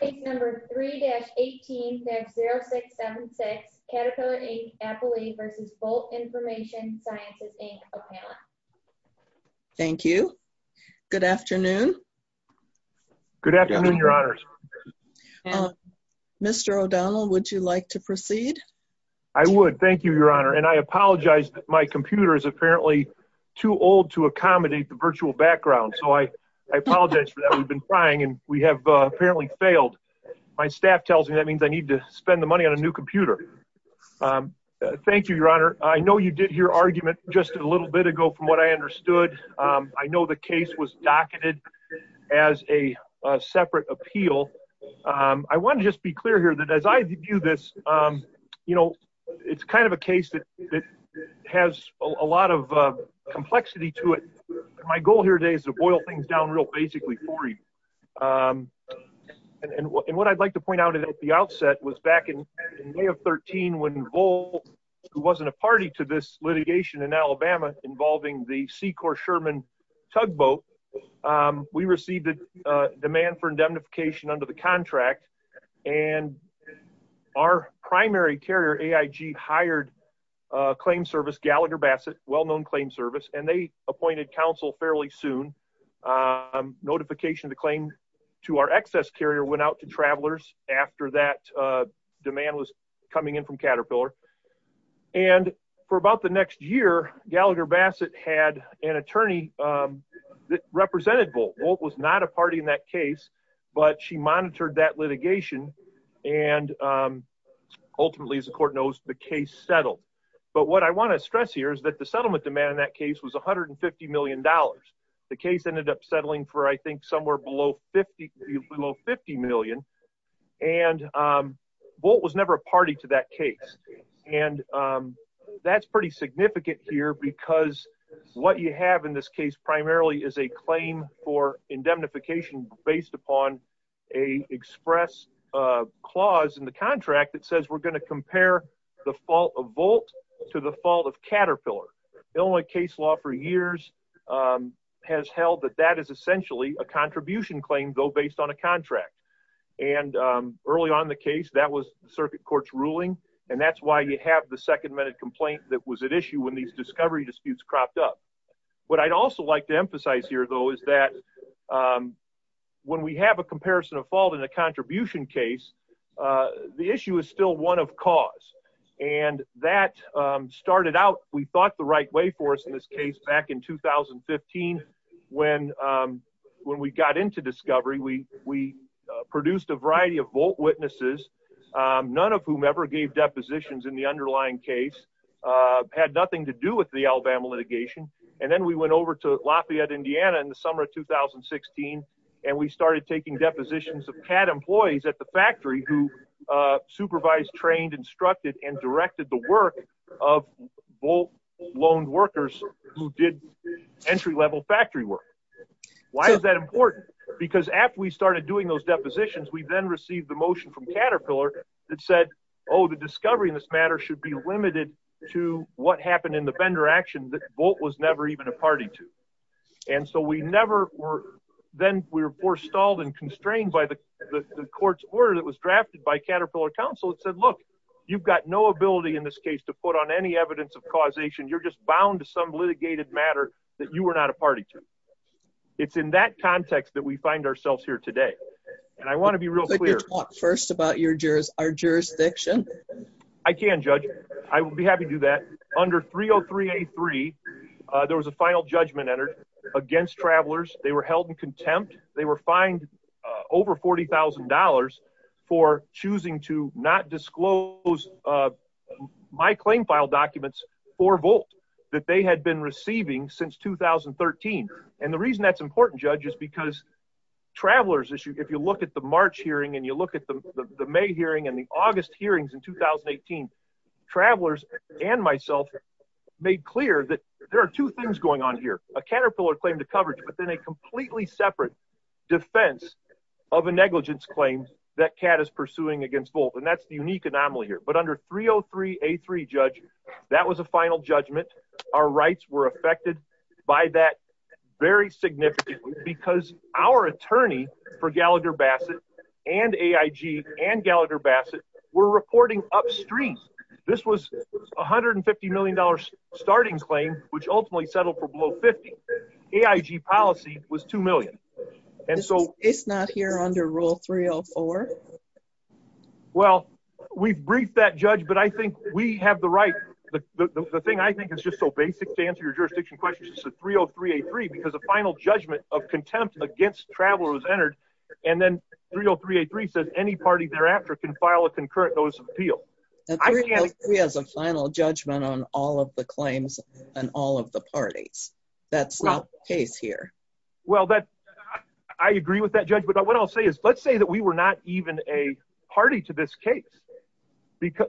Case number 3-18-50676, Caterpillar, Inc., Appley v. Volt Information Sciences, Inc., Ocala. Thank you. Good afternoon. Good afternoon, Your Honors. Mr. O'Donnell, would you like to proceed? I would. Thank you, Your Honor. And I apologize that my computer is apparently too old to accommodate the virtual background, so I apologize for that. And we have apparently failed. My staff tells me that means I need to spend the money on a new computer. Thank you, Your Honor. I know you did your argument just a little bit ago from what I understood. I know the case was docketed as a separate appeal. I want to just be clear here that as I view this, you know, it's kind of a case that has a lot of complexity to it. My goal here today is to boil things down real basically for you. And what I'd like to point out at the outset was back in May of 2013 when Volt, who wasn't a party to this litigation in Alabama involving the Secor Sherman tugboat, we received a demand for indemnification under the contract. And our primary carrier, AIG, hired a claim service, Gallagher Bassett, well-known claim service, and they appointed counsel fairly soon. Notification of the claim to our excess carrier went out to travelers after that demand was coming in from Caterpillar. And for about the next year, Gallagher Bassett had an attorney that represented Volt. Volt was not a party in that case, but she monitored that litigation. And ultimately, as the court knows, the case settled. But what I want to stress here is that the settlement demand in that case was $150 million. The case ended up settling for, I think, somewhere below 50 million. And Volt was never a party to that case. And that's pretty significant here because what you have in this case primarily is a claim for indemnification based upon a express clause in the contract that says we're going to compare the fault of Volt to the fault of Caterpillar. The only case law for years has held that that is essentially a contribution claim, though based on a contract. And early on in the case, that was the circuit court's ruling. And that's why you have the second minute complaint that was at issue when these discovery disputes cropped up. What I'd also like to emphasize here, though, is that when we have a comparison of fault in a contribution case, the issue is still one of cause. And that started out, we thought, the right way for us in this case back in 2015 when we got into discovery. We produced a variety of Volt witnesses, none of whom ever gave depositions in the underlying case, had nothing to do with the Alabama litigation. And then we went over to Lafayette, Indiana in the summer of 2016, and we started taking depositions of CAD employees at the factory who supervised, trained, instructed, and directed the work of Volt loaned workers who did entry-level factory work. Why is that important? Because after we started doing those depositions, we then received the motion from Caterpillar that said, oh, the discovery in this matter should be limited to what happened in the vendor action that Volt was never even a party to. And so we never were, then we were forced, stalled, and constrained by the court's order that was drafted by Caterpillar counsel. It said, look, you've got no ability in this case to put on any evidence of causation. You're just bound to some litigated matter that you were not a party to. It's in that context that we find ourselves here today. And I want to be real clear. Could you talk first about our jurisdiction? I can, Judge. I will be happy to do that. Under 303A3, there was a final judgment entered against Travelers. They were held in contempt. They were fined over $40,000 for choosing to not disclose my claim file documents for Volt that they had been receiving since 2013. And the reason that's important, Judge, is because Travelers, if you look at the March hearing, and you look at the May hearing, and the August hearings in 2018, Travelers and myself made clear that there are two things going on here, a Caterpillar claim to coverage, but then a completely separate defense of a negligence claim that CAT is pursuing against Volt. And that's the unique anomaly here. But under 303A3, Judge, that was a final judgment. Our rights were affected by that very significantly because our attorney for Gallagher Bassett and AIG and Gallagher Bassett were reporting upstream. This was a $150 million starting claim, which ultimately settled for below $50 million. AIG policy was $2 million. It's not here under Rule 304? Well, we've briefed that, Judge, but I think we have the right, the thing I think is just so basic to answer your jurisdiction questions is 303A3 because a final judgment of contempt against Travelers was entered, and then 303A3 says any party thereafter can file a concurrent notice of appeal. 303 has a final judgment on all of the claims and all of the parties. That's not the case here. Well, I agree with that, Judge, but what I'll say is, let's say that we were not even a party to this case.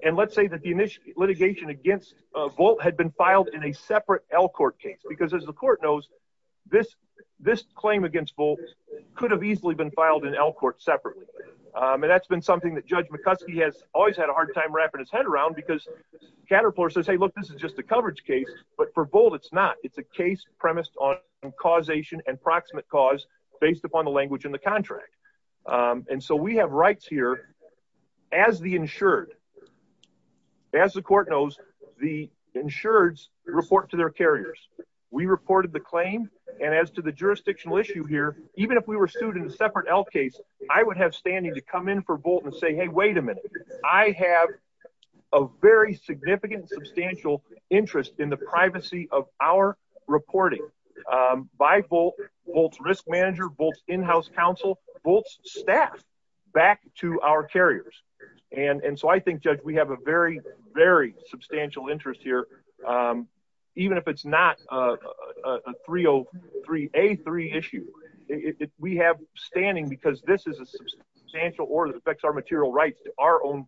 And let's say that the litigation against Volt had been filed in a separate Elkhart case because as the court knows, this claim against Volt could have easily been filed in Elkhart separately. And that's been something that Judge McCuskey has always had a hard time wrapping his head around because Caterpillar says, hey, look, this is just a coverage case, but for Volt, it's not. It's a case premised on causation and proximate cause based upon the language in the contract. And so we have rights here as the insured. As the court knows, the insureds report to their carriers. We reported the claim. And as to the jurisdictional issue here, even if we were sued in a separate Elkhart case, I would have standing to come in for Volt and say, hey, wait a minute. I have a very significant, substantial interest in the counsel, Volt's staff back to our carriers. And so I think, Judge, we have a very, very substantial interest here. Even if it's not a 303, A3 issue, we have standing because this is a substantial order that affects our material rights to our own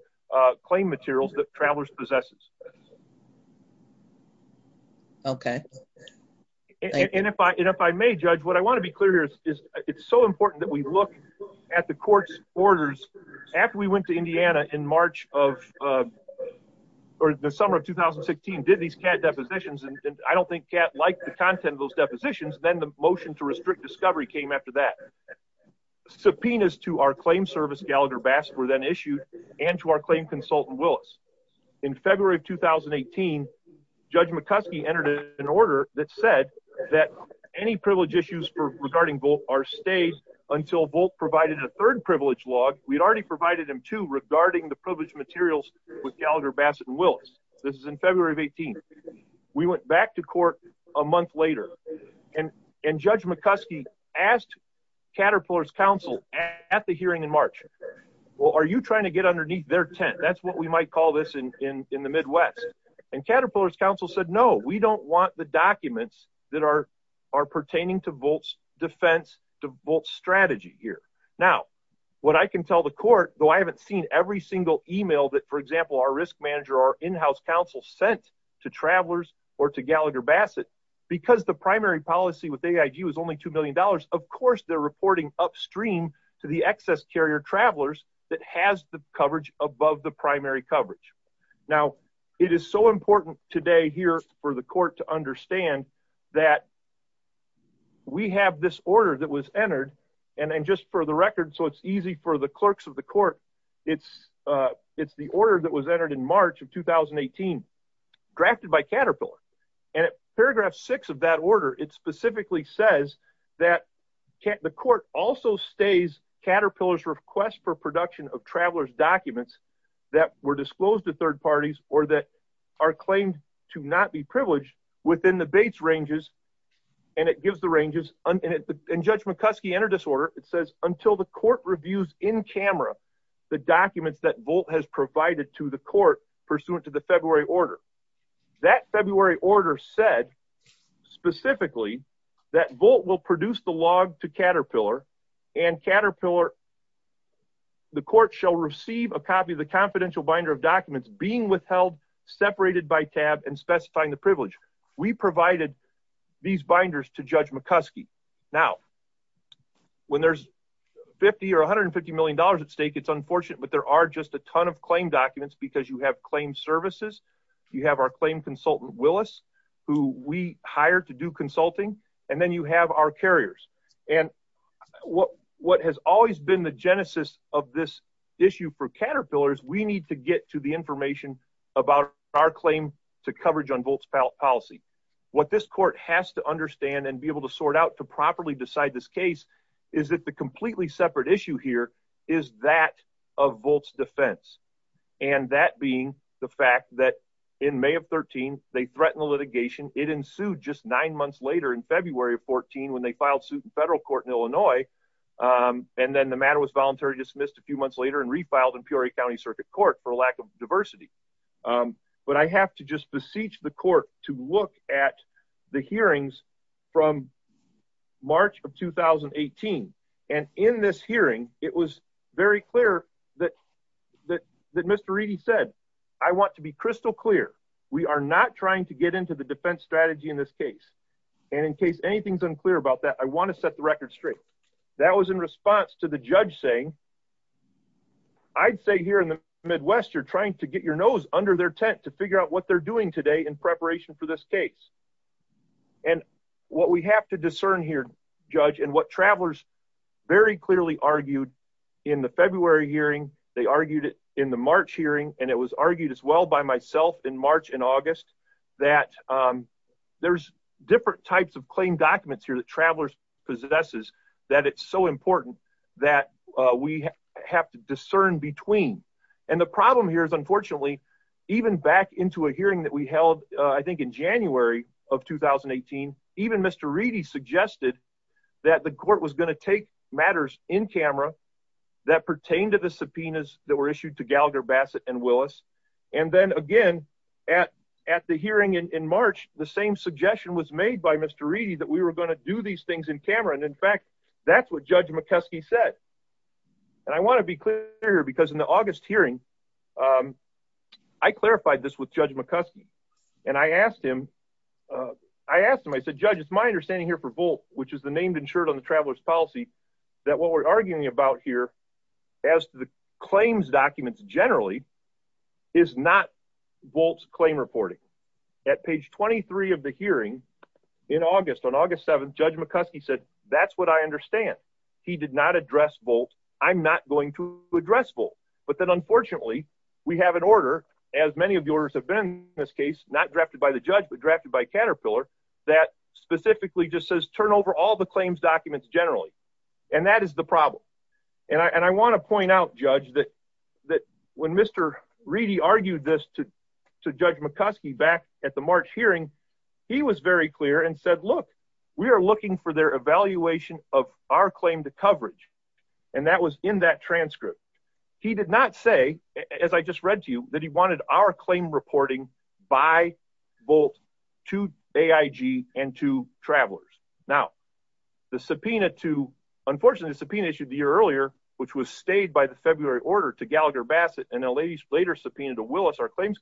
claim materials that Travelers possesses. Okay. And if I may, Judge, what I want to be clear here is it's so important that we look at the court's orders after we went to Indiana in March of, or the summer of 2016, did these cat depositions. And I don't think cat liked the content of those depositions. Then the motion to restrict discovery came after that. Subpoenas to our claim service, Gallagher Bass, were then issued and to our claim consultant, Willis. In February of 2018, Judge McCuskey entered an order that said that any privilege issues regarding Volt are stayed until Volt provided a third privilege log. We'd already provided him two regarding the privilege materials with Gallagher Bassett and Willis. This is in February of 18. We went back to court a month later and Judge McCuskey asked Caterpillar's counsel at the hearing in March, well, are you to get underneath their tent? That's what we might call this in the Midwest. And Caterpillar's counsel said, no, we don't want the documents that are pertaining to Volt's defense, to Volt's strategy here. Now, what I can tell the court, though, I haven't seen every single email that, for example, our risk manager or in-house counsel sent to Travelers or to Gallagher Bassett, because the primary policy with AIG was only $2 million. Of course, they're reporting upstream to the excess carrier Travelers that has the coverage above the primary coverage. Now, it is so important today here for the court to understand that we have this order that was entered. And then just for the record, so it's easy for the clerks of the court, it's the order that was entered in March of 2018, drafted by Caterpillar. And at paragraph six of that order, it specifically says that the court also stays Caterpillar's request for production of Travelers documents that were disclosed to third parties or that are claimed to not be privileged within the Bates ranges. And it gives the ranges and Judge McCuskey entered this order. It says until the court reviews in camera, the documents that Volt has provided to the court pursuant to the February order. That February order said specifically that Volt will produce the log to Caterpillar and Caterpillar, the court shall receive a copy of the confidential binder of documents being withheld, separated by tab and specifying the privilege. We provided these binders to Judge McCuskey. Now, when there's 50 or $150 million at stake, it's unfortunate, but there are just a ton of claim documents because you have claimed services. You have our claim consultant, Willis, who we hire to do consulting, and then you have our carriers. And what has always been the genesis of this issue for Caterpillars, we need to get to the information about our claim to coverage on Volt's policy. What this court has to understand and be able to sort out to properly decide this and that being the fact that in May of 13, they threatened the litigation. It ensued just nine months later in February of 14 when they filed suit in federal court in Illinois. And then the matter was voluntary dismissed a few months later and refiled in Peoria County Circuit Court for a lack of diversity. But I have to just beseech the court to look at the hearings from March of 2018. And in this hearing, it was very clear that Mr. Reedy said, I want to be crystal clear. We are not trying to get into the defense strategy in this case. And in case anything's unclear about that, I want to set the record straight. That was in response to the judge saying, I'd say here in the Midwest, you're trying to get your nose under their tent to figure out what they're doing today in preparation for this case. And what we have to discern here, Judge, and what travelers very clearly argued in the February hearing, they argued it in the March hearing. And it was argued as well by myself in March and August that there's different types of claim documents here that travelers possesses that it's so important that we have to discern between. And the problem here is unfortunately, even back into a hearing that we held, I think, in January of 2018, even Mr. Reedy suggested that the court was going to take matters in camera that pertain to the subpoenas that were issued to Gallagher, Bassett, and Willis. And then again, at the hearing in March, the same suggestion was made by Mr. Reedy that we were going to do these things in camera. And in fact, that's what Judge McCuskey said. And I want to be clear here because in the August hearing, I clarified this with Judge McCuskey. And I asked him, I asked him, I said, Judge, it's my understanding here for Volt, which is the named insured on the traveler's policy, that what we're arguing about here as to the claims documents generally is not Volt's claim reporting. At page 23 of the hearing in August, on August 7th, Judge McCuskey said, look, that's what I understand. He did not address Volt. I'm not going to address Volt. But then unfortunately, we have an order, as many of yours have been in this case, not drafted by the judge, but drafted by Caterpillar, that specifically just says, turn over all the claims documents generally. And that is the problem. And I want to point out, Judge, that when Mr. Reedy argued this to Judge McCuskey back at the March hearing, he was very clear and said, look, we are looking for their evaluation of our claim to coverage. And that was in that transcript. He did not say, as I just read to you, that he wanted our claim reporting by Volt to AIG and to travelers. Now, the subpoena to, unfortunately, the subpoena issued the year earlier, which was stayed by the February order to Gallagher Bassett and a later subpoena to Willis, our claims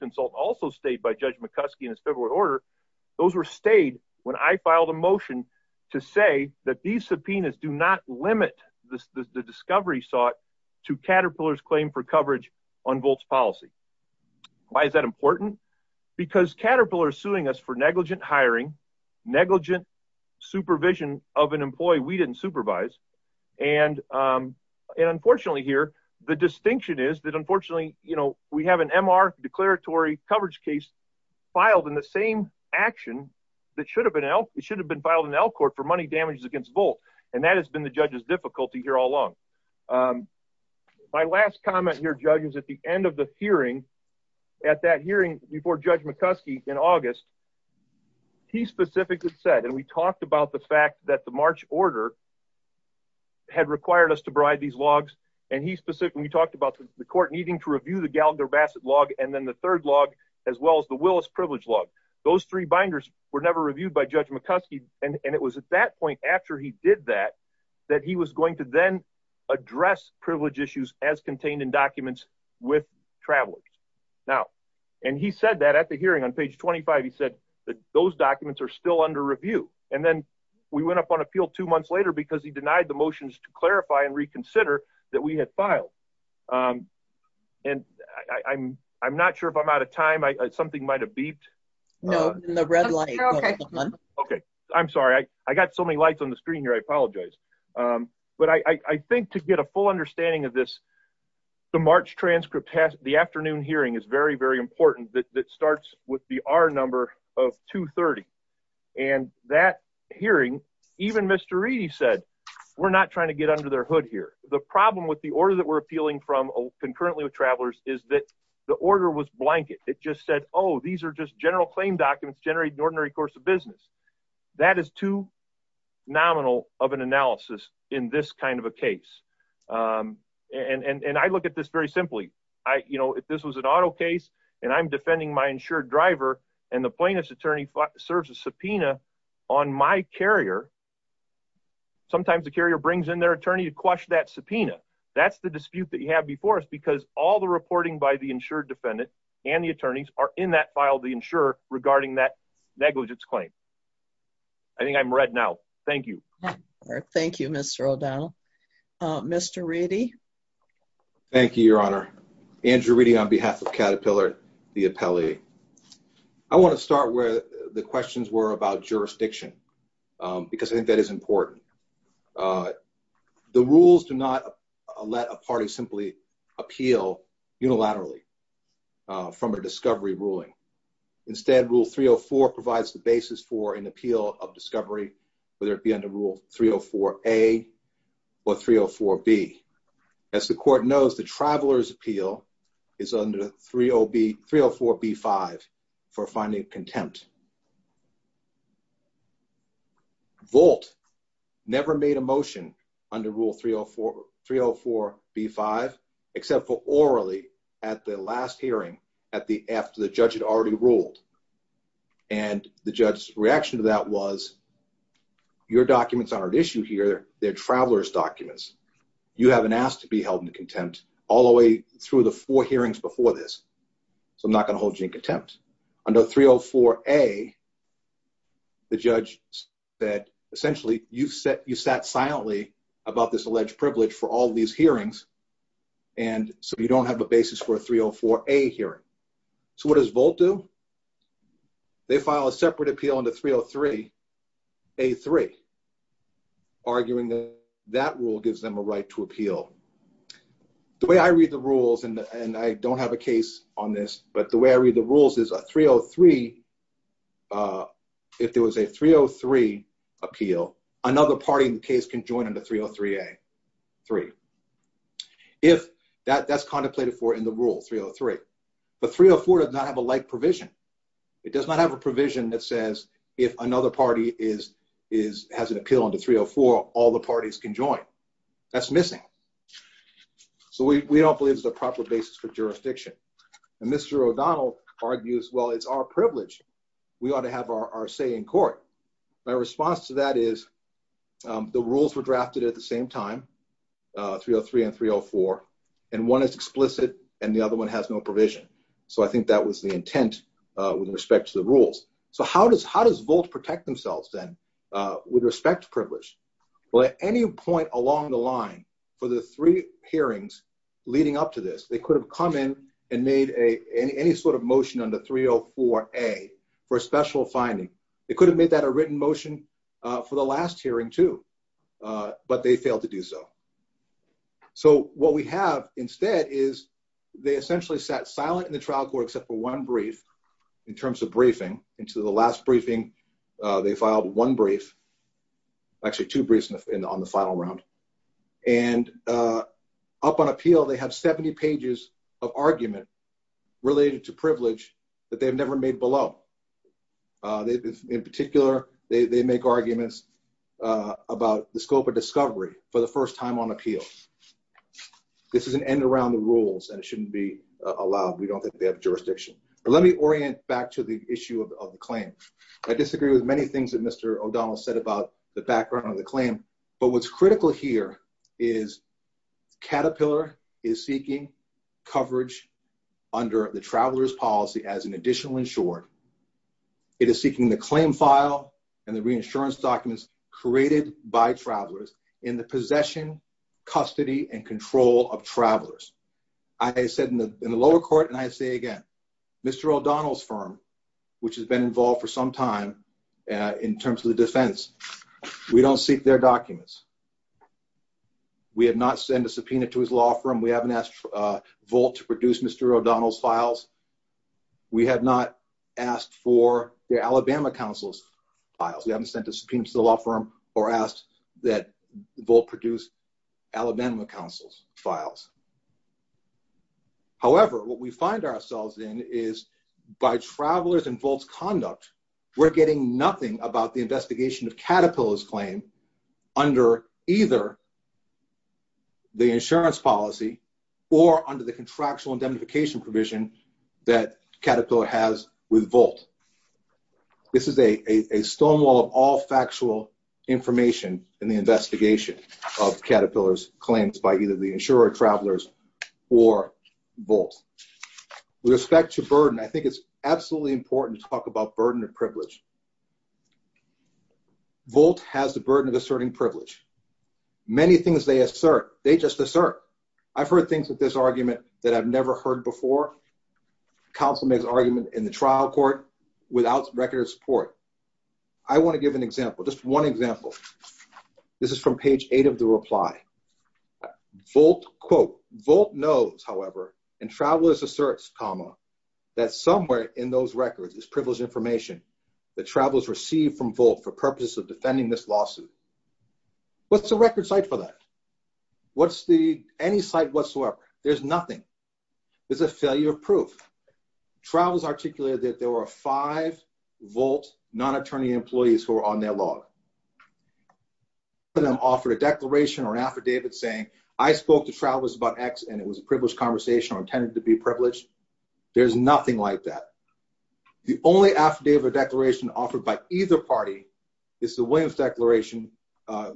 to say that these subpoenas do not limit the discovery sought to Caterpillar's claim for coverage on Volt's policy. Why is that important? Because Caterpillar is suing us for negligent hiring, negligent supervision of an employee we didn't supervise. And unfortunately here, the distinction is that unfortunately, you know, we have an MR declaratory coverage case filed in the same action that should have been, it should have been filed in Elk Court for money damages against Volt. And that has been the judge's difficulty here all along. My last comment here, Judge, is at the end of the hearing, at that hearing before Judge McCuskey in August, he specifically said, and we talked about the fact that the March order had required us to provide these logs. And he specifically talked about the court needing to review the Gallagher log and then the third log, as well as the Willis privilege log. Those three binders were never reviewed by Judge McCuskey. And it was at that point after he did that, that he was going to then address privilege issues as contained in documents with travelers. Now, and he said that at the hearing on page 25, he said that those documents are still under review. And then we went up on appeal two months later because he denied the motions to clarify and reconsider that we had filed. And I'm not sure if I'm out of time. Something might've beeped. No, in the red light. Okay. Okay. I'm sorry. I got so many lights on the screen here. I apologize. But I think to get a full understanding of this, the March transcript has the afternoon hearing is very, very important that starts with the R number of 230. And that hearing, even Mr. Reedy said, we're not trying to get under their hood here. The problem with the order that we're appealing from concurrently with travelers is that the order was blanket. It just said, Oh, these are just general claim documents generate an ordinary course of business. That is too nominal of an analysis in this kind of a case. Um, and, and, and I look at this very simply, I, you know, if this was an auto case and I'm defending my insured driver and the plaintiff's attorney serves a subpoena on my carrier, sometimes the carrier brings in their attorney to quash that subpoena. That's the dispute that you have before us because all the reporting by the insured defendant and the attorneys are in that file, the insurer regarding that negligence claim. I think I'm read now. Thank you. Thank you, Mr. O'Donnell. Uh, Mr. Reedy. Thank you, your honor. Andrew reading on behalf of Caterpillar, the appellee. I want to start where the questions were about jurisdiction. Um, because I think that is important. Uh, the rules do not let a party simply appeal unilaterally, uh, from a discovery ruling. Instead, rule 304 provides the basis for an appeal of discovery, whether it be under rule 304 a or 304 B as the court knows the travelers appeal is under 30B 304 B five for finding contempt. Volt never made a motion under rule 304 304 B five except for orally at the last hearing at the after the judge had already ruled and the judge's reaction to that was your documents aren't issued here. They're travelers documents. You haven't asked to be contempt all the way through the four hearings before this. So I'm not going to hold you in contempt under 304 a the judge that essentially you've set, you sat silently about this alleged privilege for all these hearings. And so you don't have a basis for a 304 a hearing. So what does volt do? They file a separate appeal on the 303 a three arguing that that rule gives them a right to appeal the way I read the rules. And I don't have a case on this, but the way I read the rules is a 303. Uh, if there was a 303 appeal, another party in the case can join in the 303 a three. If that that's contemplated for in the rule 303, but 304 does not have a light provision. It does not have a provision that says if another party is, is, has an appeal under 304, all the parties can join that's missing. So we, we don't believe it's a proper basis for jurisdiction. And Mr. O'Donnell argues, well, it's our privilege. We ought to have our say in court. My response to that is, um, the rules were drafted at the same time, uh, 303 and 304, and one is explicit and the other one has no provision. So I think that was the intent, uh, with respect to the rules. So how does, how does volt protect themselves then, uh, with respect to privilege? Well, at any point along the line for the three hearings leading up to this, they could have come in and made a, any, any sort of motion on the 304 a for a special finding. They could have made that a written motion, uh, for the last hearing too. Uh, but they failed to do so. So what we have instead is they essentially sat silent in the trial court, except for one brief in terms of briefing into the last briefing. Uh, they filed one brief, actually two briefs on the final round and, uh, up on appeal. They have 70 pages of argument related to privilege that they've never made below. Uh, they, in particular, they, they make arguments, uh, about the scope of discovery for the first time on appeal. This is an end around the rules and it shouldn't be allowed. We don't think they have jurisdiction, but let me orient back to the issue of the claim. I disagree with many things that Mr. O'Donnell said about the background of the claim, but what's critical here is Caterpillar is seeking coverage under the traveler's policy as an additional insured. It is seeking the claim file and the reinsurance documents created by travelers in the possession, custody, and control of travelers. I said in the, in the lower court, and I say again, Mr. O'Donnell's firm, which has been involved for some time, uh, in terms of the defense, we don't seek their documents. We have not sent a subpoena to his law firm. We haven't asked, uh, Volt to produce Mr. O'Donnell's files. We have not asked for the Alabama council's files. We haven't sent a subpoena to the law firm or asked that Volt produce Alabama council's files. However, what we find ourselves in is by travelers and Volt's conduct, we're getting nothing about the investigation of Caterpillar's claim under either the insurance policy or under the contractual indemnification provision that Caterpillar has with Volt. This is a, a, a stone wall of all factual information in the investigation of Caterpillar's claims by either the insurer, travelers, or Volt. With respect to burden, I think it's absolutely important to talk about burden of privilege. Volt has the burden of asserting privilege. Many things they assert, they just assert. I've heard things with this argument that I've never heard before. Counsel makes argument in the trial court without record of support. I want to give an example, just one example. This is from page eight of the reply. Volt quote, Volt knows, however, and travelers asserts, comma, that somewhere in those records is privileged information that travelers received from Volt for purposes of defending this lawsuit. What's the record site for that? What's the, any site whatsoever? There's nothing. There's a failure of proof. Trials articulated that there were five Volt non-attorney employees who were on their law. One of them offered a declaration or an affidavit saying, I spoke to travelers about X and it was a privileged conversation or intended to be privileged. There's nothing like that. The only affidavit or declaration offered by either party is the Williams declaration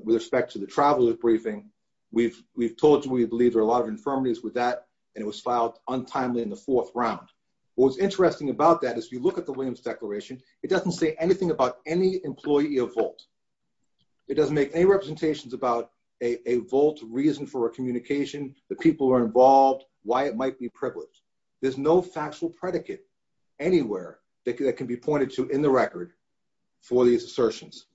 with respect to the traveler's briefing. We've, we've told you, we believe there are a lot of infirmities with that, and it was filed untimely in the fourth round. What was interesting about that is if you look at the Williams declaration, it doesn't say anything about any employee of Volt. It doesn't make any representations about a Volt reason for a communication, the people who are involved, why it might be privileged. There's no factual predicate anywhere that can be pointed to in the record for these assertions.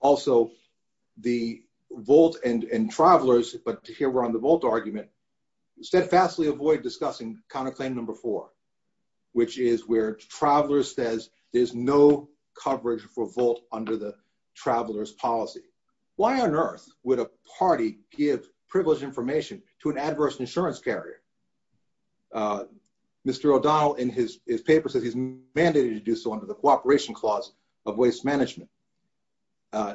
Also, the Volt and travelers, but here we're on the Volt argument, steadfastly avoid discussing counterclaim number four, which is where travelers says there's no coverage for Volt under the traveler's policy. Why on earth would a party give privileged information to an adverse insurance carrier? Mr. O'Donnell in his, his paper says he's mandated to do so under the cooperation clause of waste management.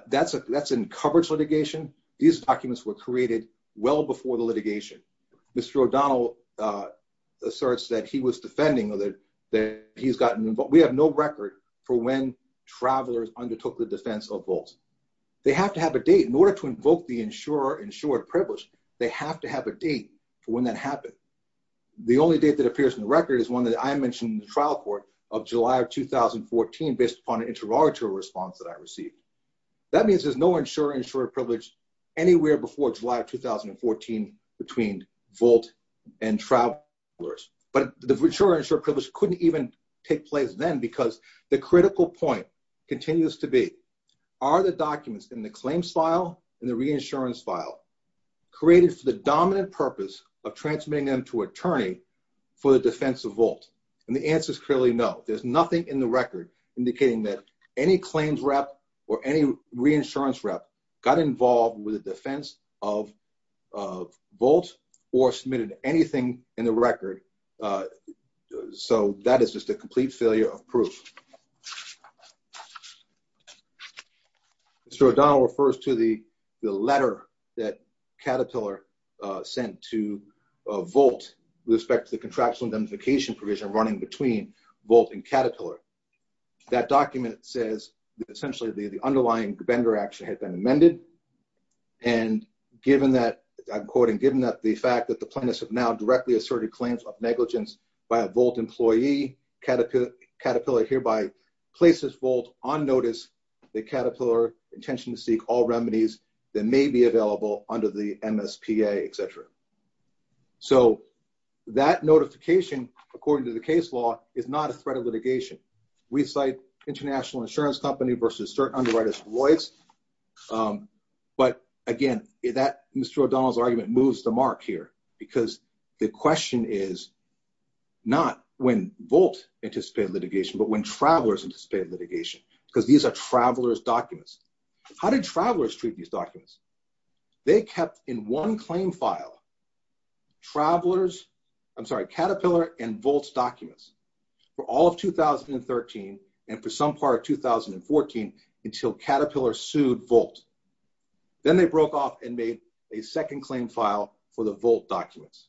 That's a, that's in coverage litigation. These documents were created well before the litigation. Mr. O'Donnell asserts that he was defending that, that he's gotten involved. We have no record for when travelers undertook the defense of Volt. They have to have a date in order to invoke the insurer, insured privilege. They have to have a date for when that happened. The only date that appears in the record is one that I mentioned in the trial court of July of 2014, based upon an interrogatory response that I received. That means there's no insurer, insured privilege anywhere before July of 2014 between Volt and travelers, but the insurer, insured privilege couldn't even take place then because the critical point continues to be, are the documents in the claims file and the reinsurance file created for the dominant purpose of transmitting them to attorney for the defense of Volt? And the reinsurance rep got involved with the defense of Volt or submitted anything in the record. So that is just a complete failure of proof. Mr. O'Donnell refers to the letter that Caterpillar sent to Volt with respect to the contractual identification provision running between Volt and Caterpillar. That document says essentially the underlying vendor action had been amended. And given that, I'm quoting, given that the fact that the plaintiffs have now directly asserted claims of negligence by a Volt employee, Caterpillar hereby places Volt on notice that Caterpillar intention to seek all remedies that may be available under the MSPA, et cetera. So that notification, according to the case law, is not a threat of litigation. We cite international insurance company versus certain underwriters of Lloyd's. But again, that Mr. O'Donnell's argument moves the mark here because the question is not when Volt anticipated litigation, but when travelers anticipated litigation, because these are travelers documents. How did travelers treat these documents? They kept in one claim file travelers, I'm sorry, Caterpillar and Volt's documents for all of 2013 and for some part of 2014 until Caterpillar sued Volt. Then they broke off and made a second claim file for the Volt documents.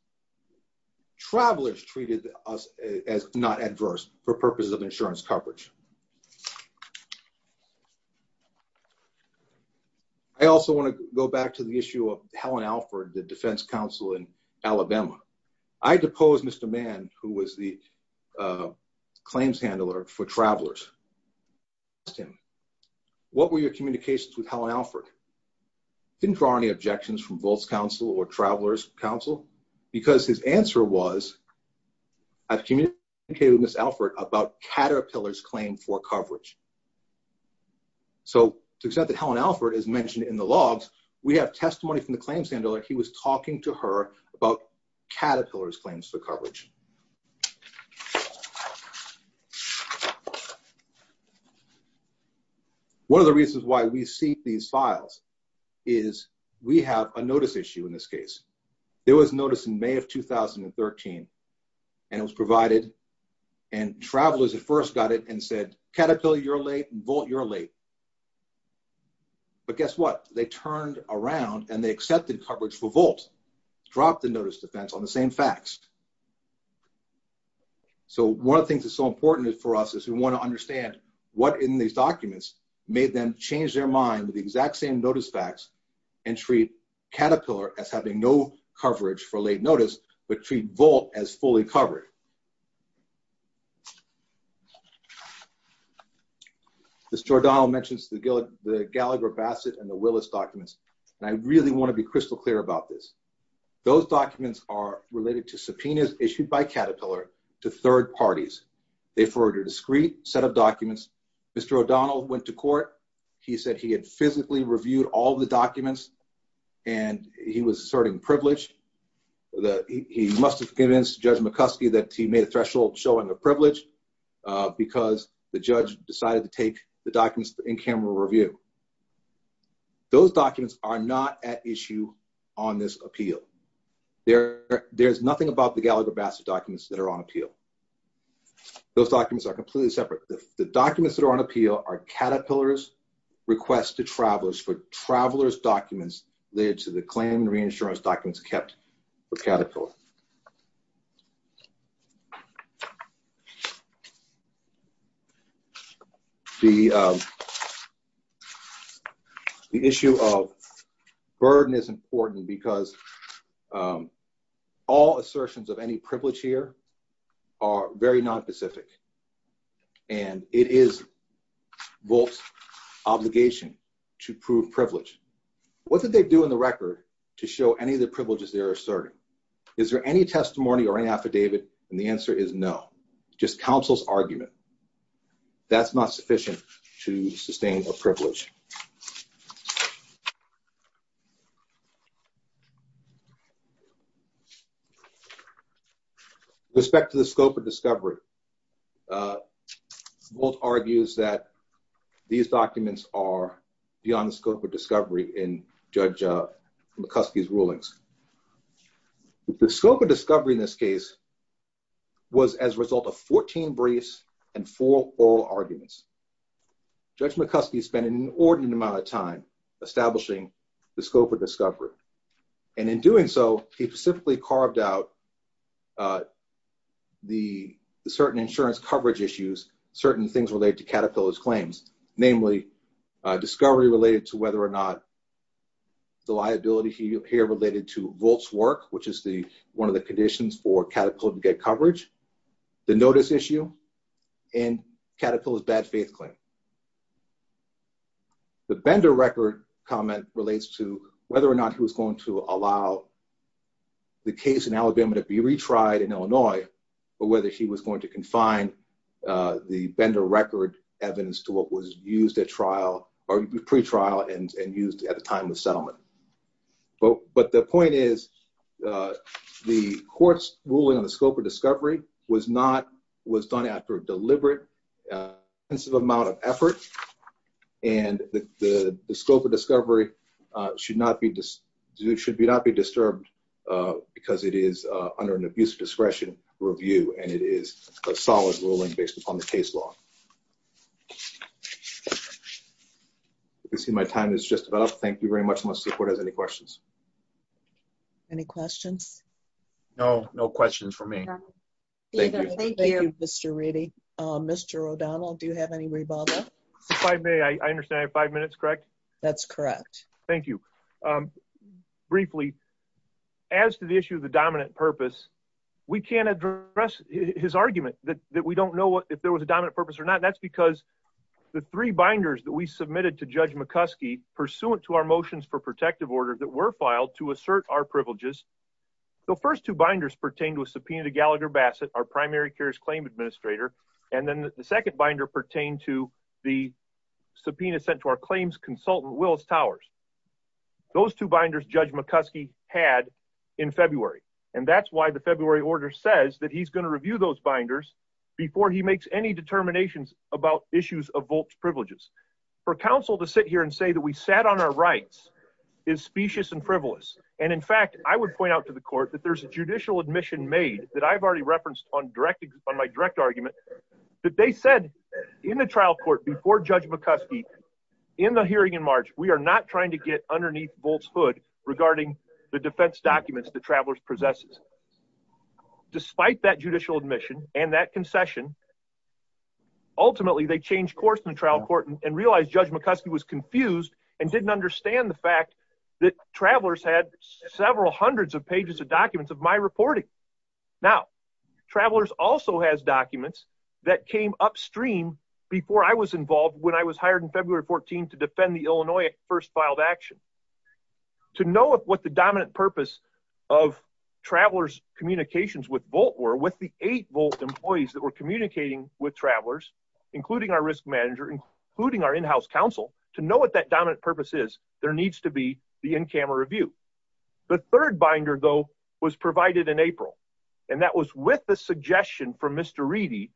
Travelers treated us as not adverse for purposes of insurance coverage. I also want to go back to the issue of Helen Alford, the defense counsel in Alabama. I deposed Mr. Mann, who was the claims handler for travelers. I asked him, what were your communications with Helen Alford? Didn't draw any objections from Volt's counsel or travelers counsel because his answer was, I've communicated with Ms. Alford about Caterpillar's claims. I've communicated for coverage. So to the extent that Helen Alford is mentioned in the logs, we have testimony from the claims handler. He was talking to her about Caterpillar's claims for coverage. One of the reasons why we see these files is we have a notice issue in this case. There was notice in May of 2013 and it was provided and travelers at first got it and said, Caterpillar, you're late, Volt, you're late. But guess what? They turned around and they accepted coverage for Volt, dropped the notice defense on the same facts. So one of the things that's so important for us is we want to understand what in these documents made them change their mind with the exact same notice facts and treat Caterpillar as having no notice but treat Volt as fully covered. Mr. O'Donnell mentions the Gallagher-Bassett and the Willis documents and I really want to be crystal clear about this. Those documents are related to subpoenas issued by Caterpillar to third parties. They forwarded a discreet set of documents. Mr. O'Donnell went to court. He said he had physically reviewed all the documents and he was asserting privilege. He must have convinced Judge McCuskey that he made a threshold showing a privilege because the judge decided to take the documents in camera review. Those documents are not at issue on this appeal. There's nothing about the Gallagher-Bassett documents that are on appeal. Those documents are completely separate. The documents that are on documents led to the claim and reinsurance documents kept with Caterpillar. The issue of burden is important because all assertions of any privilege here are very non-specific and it is Volt's obligation to prove privilege. What did they do in the record to show any of the privileges they're asserting? Is there any testimony or any affidavit? And the answer is no. Just counsel's argument. That's not sufficient to sustain a privilege. With respect to the scope of discovery, Volt argues that these documents are beyond the scope of discovery in Judge McCuskey's rulings. The scope of discovery in this case was as a result of 14 briefs and four oral arguments. Judge McCuskey spent an enormous amount of time establishing the scope of discovery. And in doing so, he specifically carved out the certain insurance coverage issues, certain things related to Caterpillar's claims, namely discovery related to whether or not the liability here related to Volt's work, which is one of the conditions for Caterpillar to get coverage, the notice issue, and Caterpillar's bad faith claim. The Bender record comment relates to whether or not he was going to allow the case in Alabama to be retried in Illinois or whether he was going to confine the Bender record evidence to what was used at trial or pre-trial and used at the time of deliberate amount of effort. And the scope of discovery should not be disturbed because it is under an abuse of discretion review and it is a solid ruling based upon the case law. You can see my time is just about up. Thank you very much. Any questions? Any questions? No, no questions for me. Thank you. Thank you, Mr. Reddy. Mr. O'Donnell, do you have any rebuttal? If I may, I understand I have five minutes, correct? That's correct. Thank you. Briefly, as to the issue of the dominant purpose, we can't address his argument that we don't know if there was a dominant purpose or not. That's because the three binders that we submitted to Judge McCuskey pursuant to our motions for protective order that were filed to assert our privileges. The first two binders pertain to a subpoena to Gallagher Bassett, our primary cares claim administrator. And then the second binder pertain to the subpoena sent to our claims consultant, Willis Towers. Those two binders Judge McCuskey had in February. And that's why the February order says that he's going to review those binders before he makes any determinations about issues of votes privileges. For counsel to sit here and say that we sat on our rights is specious and frivolous. And in fact, I would point out to the court that there's a judicial admission made that I've already referenced on direct on my direct argument that they said in the trial court before Judge McCuskey in the hearing in March, we are not trying to get underneath Bolt's hood regarding the defense documents that travelers possesses. Despite that judicial admission and that concession, ultimately they changed course in the trial court and realized Judge McCuskey was confused and didn't understand the fact that travelers had several hundreds of pages of documents of my reporting. Now travelers also has documents that came upstream before I was involved when I was hired in February 14 to defend the Illinois first filed action to know what the dominant purpose of travelers communications with bolt were with the eight volt employees that were communicating with travelers, including our risk manager, including our in-house counsel to know what that dominant purpose is. There needs to be the in-camera review. The third binder though was provided in April. And that was with the suggestion from Mr. Reedy,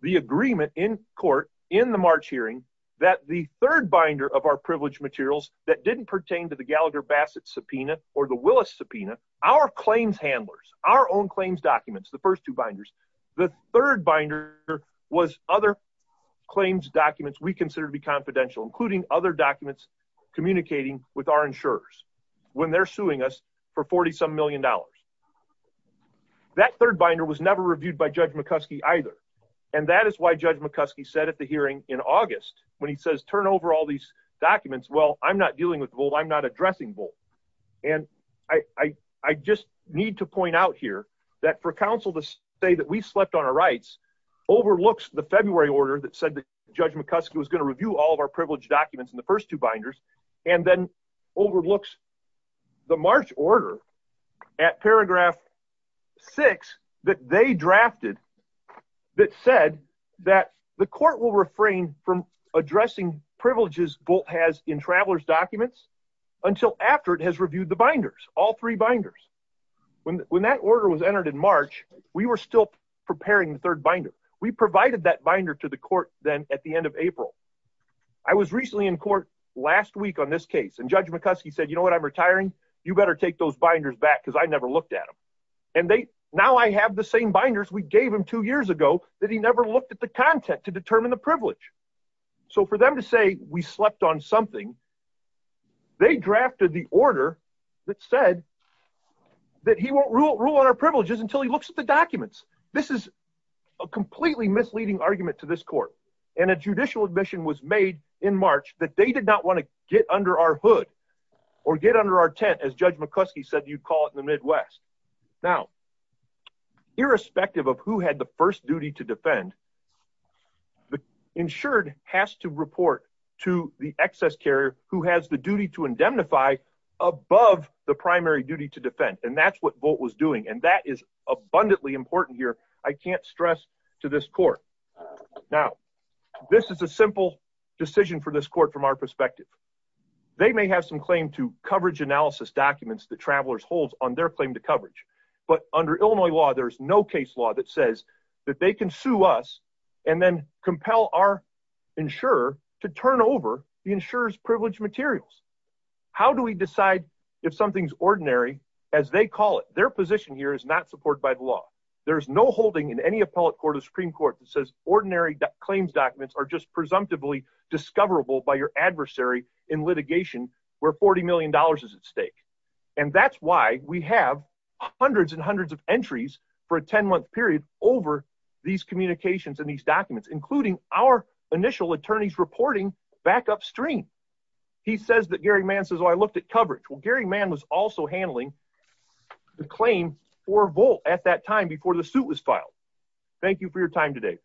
the agreement in court in the March hearing that the third binder of our privileged materials that didn't pertain to the Gallagher Bassett subpoena or the Willis subpoena, our claims handlers, our own claims documents, the first two binders, the third binder was other claims documents. We consider to be confidential, including other documents, communicating with our insurers when they're suing us for 40 some million dollars. That third binder was never reviewed by Judge McCuskey either. And that is why Judge McCuskey said at the hearing in August, when he says, turn over all these documents, well, I'm not dealing with gold. I'm not addressing bolt. And I, I, I just need to point out here that for counsel to say that we slept on our rights overlooks the February order that said that Judge McCuskey was going to review all of our privilege documents in the first two binders, and then overlooks the March order at paragraph six that they drafted that said that the court will refrain from addressing privileges bolt has in travelers documents until after it has reviewed the binders, all three binders. When, when that order was entered in March, we were still preparing the third binder. We provided that binder to the court then at the end of April. I was recently in court last week on this case and Judge McCuskey said, you know what, I'm retiring. You better take those binders back because I never looked at them. And they, now I have the same binders we privilege. So for them to say, we slept on something, they drafted the order that said that he won't rule rule on our privileges until he looks at the documents. This is a completely misleading argument to this court. And a judicial admission was made in March that they did not want to get under our hood or get under our tent as Judge McCuskey said, you'd call it in the Midwest. Now, irrespective of who had the first duty to defend the insured has to report to the excess carrier who has the duty to indemnify above the primary duty to defend. And that's what bolt was doing. And that is abundantly important here. I can't stress to this court. Now, this is a simple decision for this court. From our perspective, they may have some claim to their claim to coverage, but under Illinois law, there's no case law that says that they can sue us and then compel our insurer to turn over the insurers privilege materials. How do we decide if something's ordinary as they call it, their position here is not supported by the law. There's no holding in any appellate court of Supreme court that says ordinary claims documents are just presumptively discoverable by your adversary in litigation where $40 million is at We have hundreds and hundreds of entries for a 10 month period over these communications and these documents, including our initial attorneys reporting back upstream. He says that Gary man says, Oh, I looked at coverage. Well, Gary man was also handling the claim for volt at that time before the suit was filed. Thank you for your time today.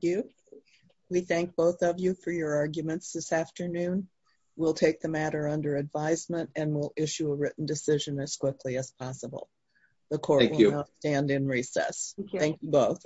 You we thank both of you for your written decision as quickly as possible. The court stand in recess. Thank you both.